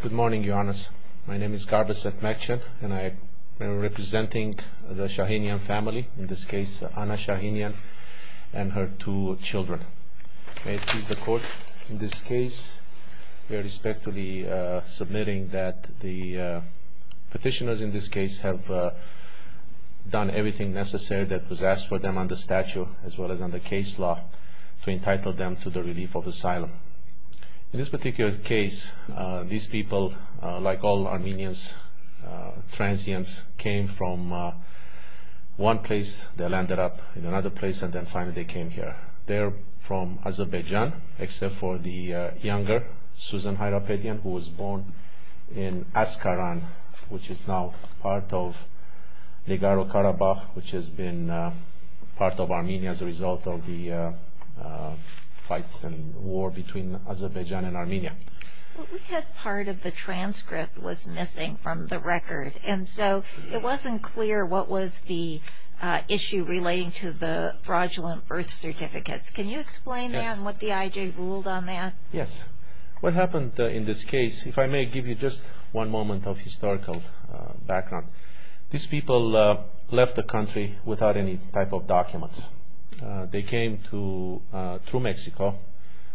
Good morning, Your Honors. My name is Garbaset Mekcan, and I am representing the Shahinyan family, in this case, Anna Shahinyan and her two children. May it please the Court, in this case, we are respectfully submitting that the petitioners in this case have done everything necessary that was asked for them on the statute as well as on the case law to entitle them to the relief of asylum. In this particular case, these people, like all Armenians, transients, came from one place, they landed up in another place, and then finally they came here. They're from Azerbaijan, except for the younger, Susan Hyrapedian, who was born in Askaran, which is now part of Legaro-Karabakh, which has been part of Armenia as a result of the fights and war between Azerbaijan and Armenia. We had part of the transcript was missing from the record, and so it wasn't clear what was the issue relating to the fraudulent birth certificates. Can you explain that and what the IJ ruled on that? Yes. What happened in this case, if I may give you just one moment of historical background, these people left the country without any type of documents. They came through Mexico,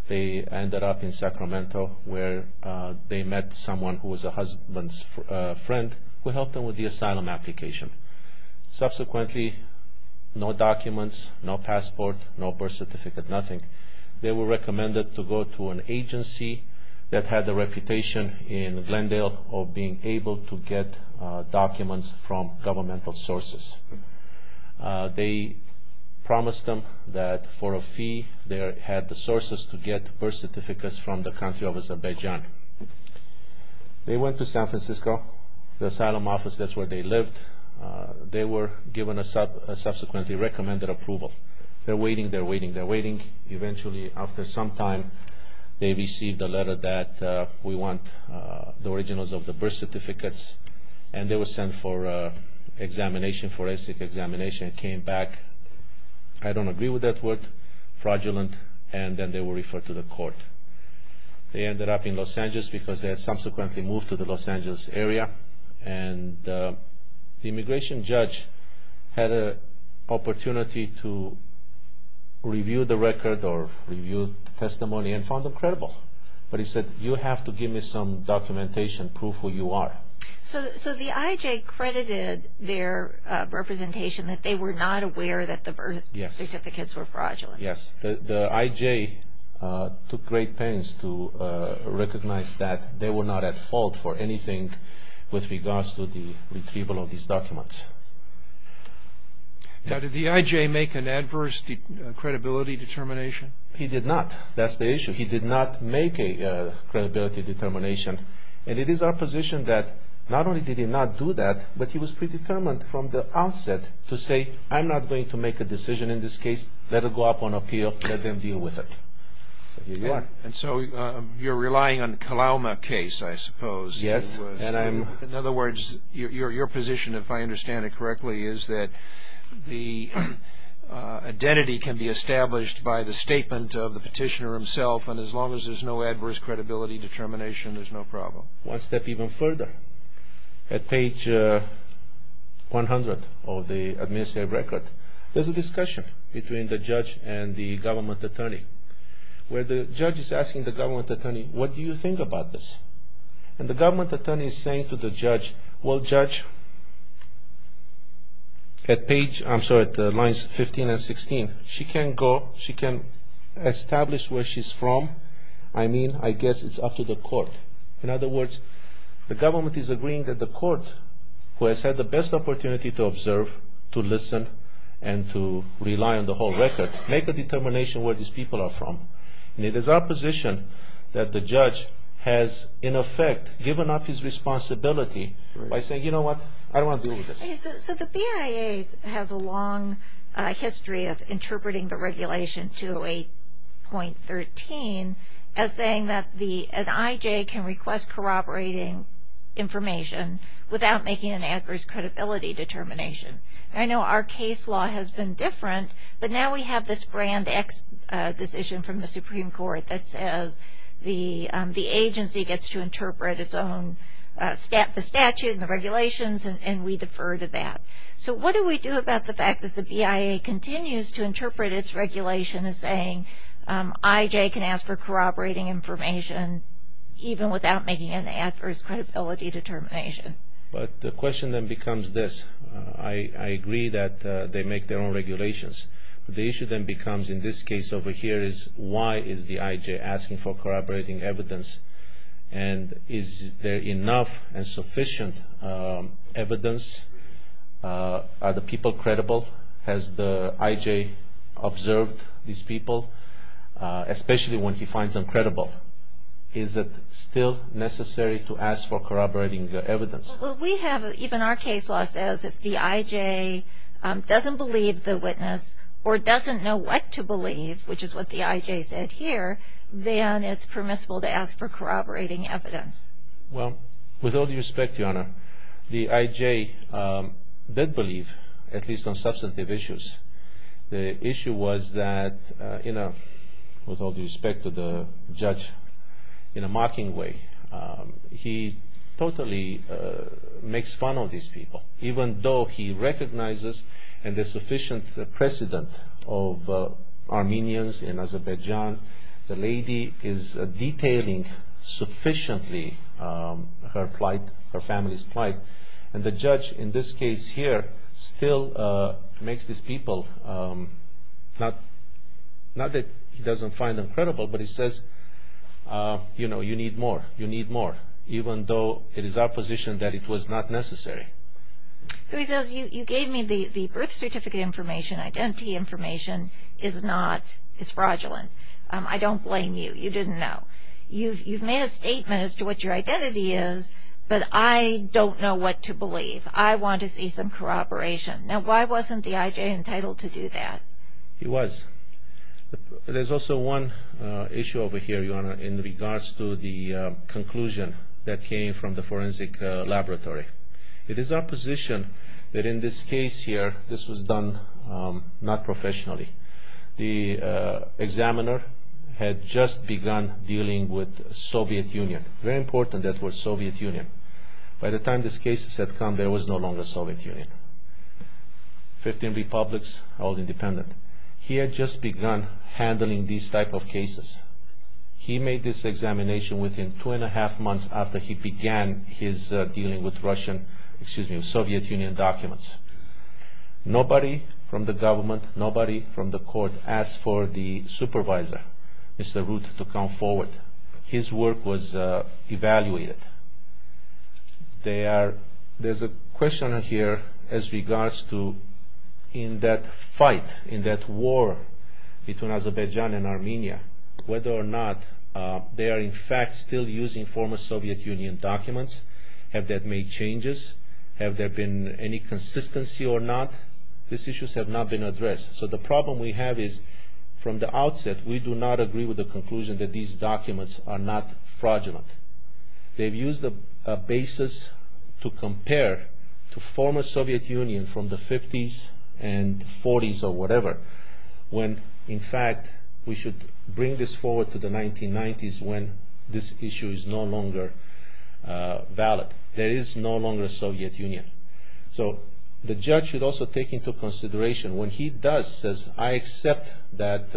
they ended up in Sacramento, where they met someone who was a husband's friend who helped them with the asylum application. Subsequently, no documents, no passport, no birth certificate, nothing. They were recommended to go to an agency that had a reputation in Glendale of being able to get documents from governmental sources. They promised them that for a fee, they had the sources to get birth certificates from the country of Azerbaijan. They went to San Francisco, the asylum office, that's where they lived. They were given a subsequently recommended approval. They're waiting, they're waiting, they're waiting. Eventually, after some time, they received a letter that we want the originals of the birth certificates, and they were sent for examination, forensic examination. It came back, I don't agree with that word, fraudulent, and then they were referred to the court. They ended up in Los Angeles because they had subsequently moved to the Los Angeles area, and the immigration judge had an opportunity to review the record or review the testimony and found them credible. But he said, you have to give me some documentation, prove who you are. So the IJ credited their representation that they were not aware that the birth certificates were fraudulent. Yes, the IJ took great pains to recognize that they were not at fault for anything with regards to the retrieval of these documents. Now, did the IJ make an adverse credibility determination? He did not. That's the issue. He did not make a credibility determination, and it is our position that not only did he not do that, but he was predetermined from the onset to say, I'm not going to make a decision in this case. Let it go up on appeal. Let them deal with it. And so you're relying on the Kalauma case, I suppose. Yes. In other words, your position, if I understand it correctly, is that the identity can be established by the statement of the petitioner himself, and as long as there's no adverse credibility determination, there's no problem. One step even further, at page 100 of the administrative record, there's a discussion between the judge and the government attorney, where the judge is asking the government attorney, what do you think about this? And the government attorney is saying to the judge, well, Judge, at page, I'm sorry, lines 15 and 16, she can go, she can establish where she's from, I mean, I guess it's up to the court. In other words, the government is agreeing that the court, who has had the best opportunity to observe, to listen, and to rely on the whole record, make a determination where these people are from. And it is our position that the judge has, in effect, given up his responsibility by saying, you know what, I don't want to deal with this. So the BIA has a long history of interpreting the regulation 208.13 as saying that an IJ can request corroborating information without making an adverse credibility determination. I know our case law has been different, but now we have this brand X decision from the Supreme Court that says the agency gets to interpret its own, the statute and the regulations, and we defer to that. So what do we do about the fact that the BIA continues to interpret its regulation as saying IJ can ask for corroborating information even without making an adverse credibility determination? But the question then becomes this. I agree that they make their own regulations. The issue then becomes, in this case over here, is why is the IJ asking for corroborating evidence? And is there enough and sufficient evidence? Are the people credible? Has the IJ observed these people, especially when he finds them credible? Is it still necessary to ask for corroborating evidence? Well, we have, even our case law says if the IJ doesn't believe the witness or doesn't know what to believe, which is what the IJ said here, then it's permissible to ask for corroborating evidence. Well, with all due respect, Your Honor, the IJ did believe, at least on substantive issues. The issue was that, with all due respect to the judge, in a mocking way, he totally makes fun of these people. Even though he recognizes the sufficient precedent of Armenians in Azerbaijan, the lady is detailing sufficiently her plight, her family's plight. And the judge, in this case here, still makes these people, not that he doesn't find them credible, but he says, you know, you need more. You need more. Even though it is our position that it was not necessary. So he says, you gave me the birth certificate information. Identity information is fraudulent. I don't blame you. You didn't know. You've made a statement as to what your identity is, but I don't know what to believe. I want to see some corroboration. Now, why wasn't the IJ entitled to do that? He was. There's also one issue over here, Your Honor, in regards to the conclusion that came from the forensic laboratory. It is our position that in this case here, this was done not professionally. The examiner had just begun dealing with Soviet Union. Very important that it was Soviet Union. By the time these cases had come, there was no longer Soviet Union. Fifteen republics, all independent. He had just begun handling these type of cases. He made this examination within two and a half months after he began his dealing with Russian, excuse me, Soviet Union documents. Nobody from the government, nobody from the court asked for the supervisor, Mr. Ruth, to come forward. His work was evaluated. There's a question here as regards to in that fight, in that war between Azerbaijan and Armenia, whether or not they are in fact still using former Soviet Union documents. Have they made changes? Have there been any consistency or not? These issues have not been addressed. So the problem we have is from the outset, we do not agree with the conclusion that these documents are not fraudulent. They've used the basis to compare to former Soviet Union from the 50s and 40s or whatever, when in fact we should bring this forward to the 1990s when this issue is no longer valid. There is no longer Soviet Union. So the judge should also take into consideration when he does, says, I accept that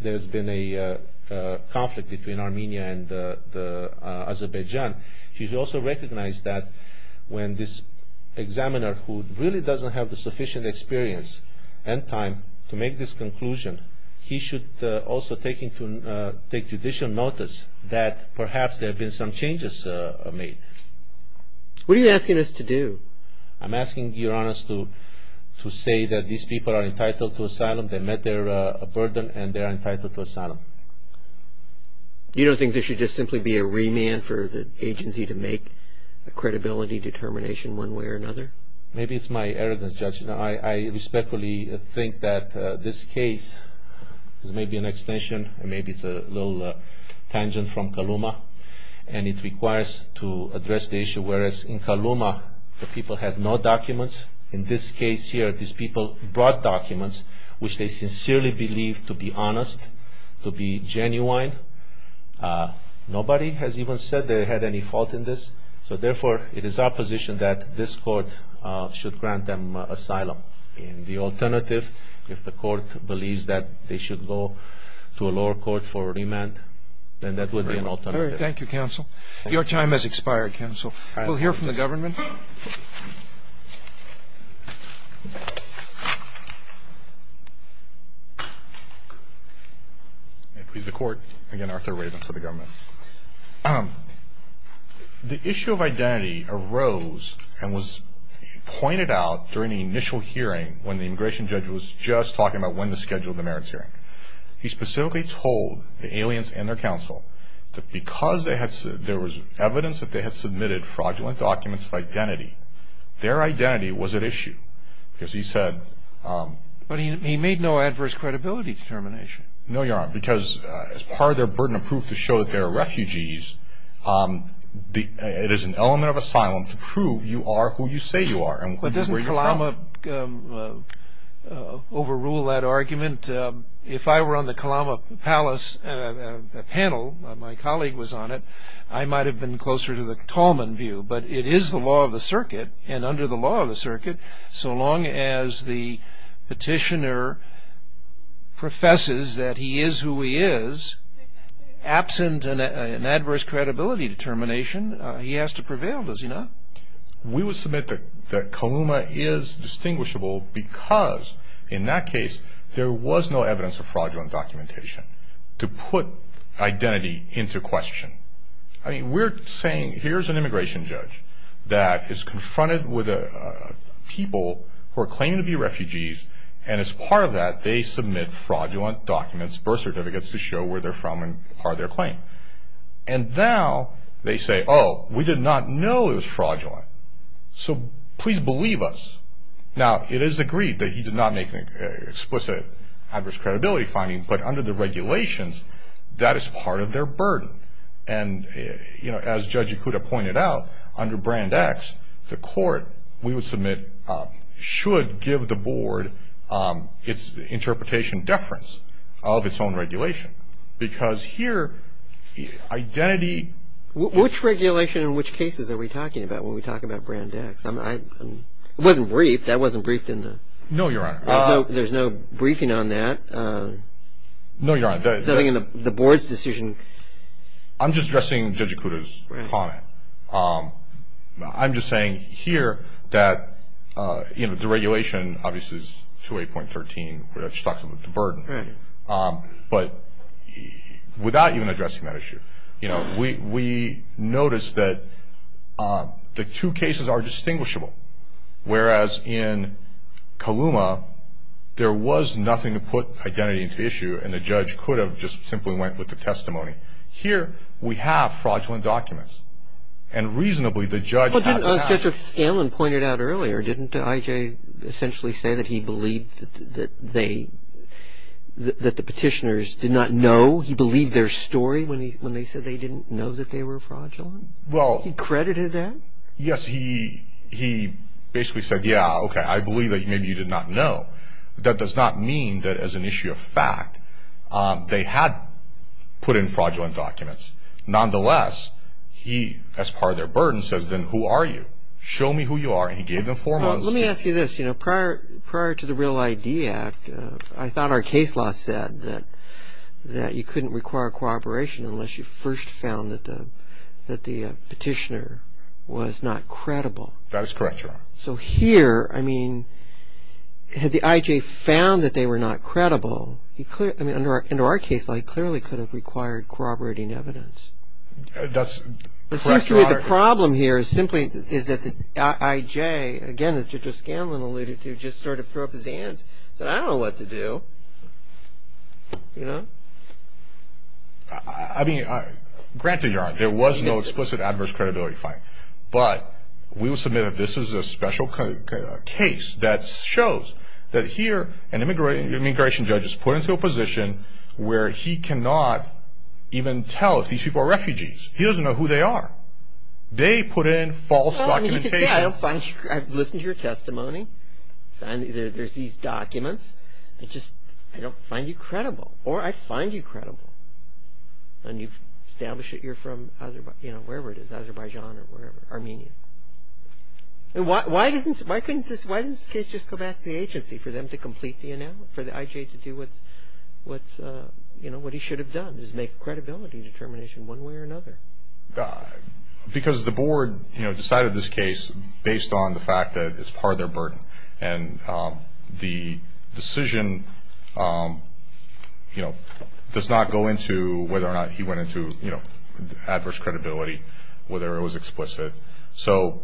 there's been a conflict between Armenia and Azerbaijan, he should also recognize that when this examiner who really doesn't have the sufficient experience and time to make this conclusion, he should also take judicial notice that perhaps there have been some changes made. What are you asking us to do? I'm asking Your Honor to say that these people are entitled to asylum. They met their burden and they are entitled to asylum. You don't think there should just simply be a remand for the agency to make a credibility determination one way or another? Maybe it's my arrogance, Judge. I respectfully think that this case is maybe an extension and maybe it's a little tangent from Kalouma and it requires to address the issue, whereas in Kalouma the people had no documents. In this case here, these people brought documents which they sincerely believed to be honest, to be genuine. Nobody has even said they had any fault in this. So therefore, it is our position that this court should grant them asylum. The alternative, if the court believes that they should go to a lower court for remand, then that would be an alternative. Thank you, Counsel. Your time has expired, Counsel. We'll hear from the government. May it please the Court. Again, Arthur Raven for the government. The issue of identity arose and was pointed out during the initial hearing when the immigration judge was just talking about when to schedule the merits hearing. He specifically told the aliens and their counsel that because there was evidence that they had submitted fraudulent documents of identity, their identity was at issue because he said... But he made no adverse credibility determination. No, Your Honor, because as part of their burden of proof to show that they are refugees, it is an element of asylum to prove you are who you say you are. But doesn't Kalouma overrule that argument? If I were on the Kalouma Palace panel, my colleague was on it, I might have been closer to the Talman view. But it is the law of the circuit, and under the law of the circuit, so long as the petitioner professes that he is who he is, absent an adverse credibility determination, he has to prevail, does he not? We would submit that Kalouma is distinguishable because in that case there was no evidence of fraudulent documentation to put identity into question. I mean, we're saying here's an immigration judge that is confronted with people who are claiming to be refugees, and as part of that they submit fraudulent documents, birth certificates, to show where they're from and part of their claim. And now they say, oh, we did not know it was fraudulent, so please believe us. Now, it is agreed that he did not make an explicit adverse credibility finding, but under the regulations, that is part of their burden. And as Judge Ikuda pointed out, under Brand X, the court, we would submit, should give the board its interpretation deference of its own regulation. Because here, identity... Which regulation and which cases are we talking about when we talk about Brand X? It wasn't briefed, that wasn't briefed in the... No, Your Honor. There's no briefing on that? No, Your Honor. Nothing in the board's decision? I'm just addressing Judge Ikuda's comment. I'm just saying here that, you know, the regulation obviously is 28.13, which talks about the burden. But without even addressing that issue, you know, we noticed that the two cases are distinguishable. Whereas in Kaluma, there was nothing to put identity into issue, and the judge could have just simply went with the testimony. Here, we have fraudulent documents. And reasonably, the judge... But didn't, as Judge Scanlon pointed out earlier, didn't I.J. essentially say that he believed that they, that the petitioners did not know, he believed their story when they said they didn't know that they were fraudulent? Well... He credited that? Yes, he basically said, yeah, okay, I believe that maybe you did not know. That does not mean that as an issue of fact, they had put in fraudulent documents. Nonetheless, he, as part of their burden, says, then, who are you? Show me who you are. And he gave them four months. Let me ask you this. You know, prior to the Real ID Act, I thought our case law said that you couldn't require cooperation unless you first found that the petitioner was not credible. That is correct, Your Honor. So here, I mean, had the I.J. found that they were not credible, he clearly, I mean, under our case law, he clearly could have required corroborating evidence. That's correct, Your Honor. It seems to me the problem here is simply, is that the I.J., again, as Judge Scanlon alluded to, just sort of threw up his hands, said, I don't know what to do. You know? I mean, granted, Your Honor, there was no explicit adverse credibility finding. But we will submit that this is a special case that shows that here an immigration judge is put into a position where he cannot even tell if these people are refugees. He doesn't know who they are. They put in false documentation. Well, I mean, you could say, I've listened to your testimony. There's these documents. I just, I don't find you credible. Or I find you credible. And you've established that you're from, you know, wherever it is, Azerbaijan or wherever, Armenia. Why doesn't this case just go back to the agency for them to complete the analysis, for the I.J. to do what he should have done, just make a credibility determination one way or another? Because the Board, you know, decided this case based on the fact that it's part of their burden. And the decision, you know, does not go into whether or not he went into, you know, adverse credibility, whether it was explicit. So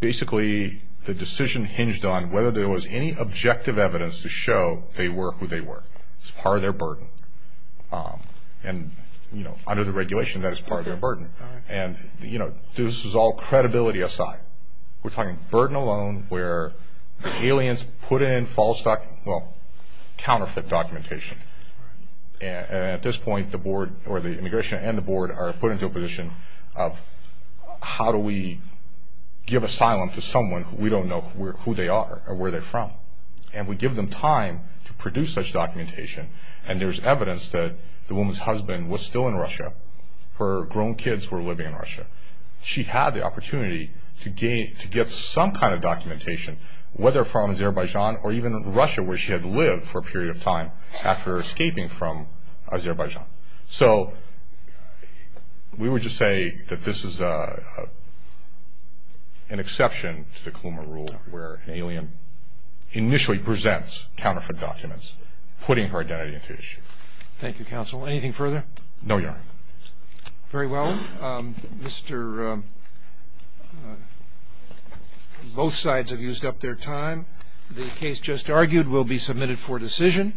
basically the decision hinged on whether there was any objective evidence to show they were who they were. It's part of their burden. And, you know, under the regulation, that is part of their burden. And, you know, this was all credibility aside. We're talking burden alone where the aliens put in false, well, counterfeit documentation. And at this point the Board, or the immigration and the Board, are put into a position of how do we give asylum to someone we don't know who they are or where they're from. And we give them time to produce such documentation. And there's evidence that the woman's husband was still in Russia. Her grown kids were living in Russia. She had the opportunity to get some kind of documentation, whether from Azerbaijan or even Russia, where she had lived for a period of time after escaping from Azerbaijan. So we would just say that this is an exception to the Klumer Rule where an alien initially presents counterfeit documents, putting her identity into issue. Thank you, Counsel. Anything further? No, Your Honor. Very well. Mr. Both sides have used up their time. The case just argued will be submitted for decision.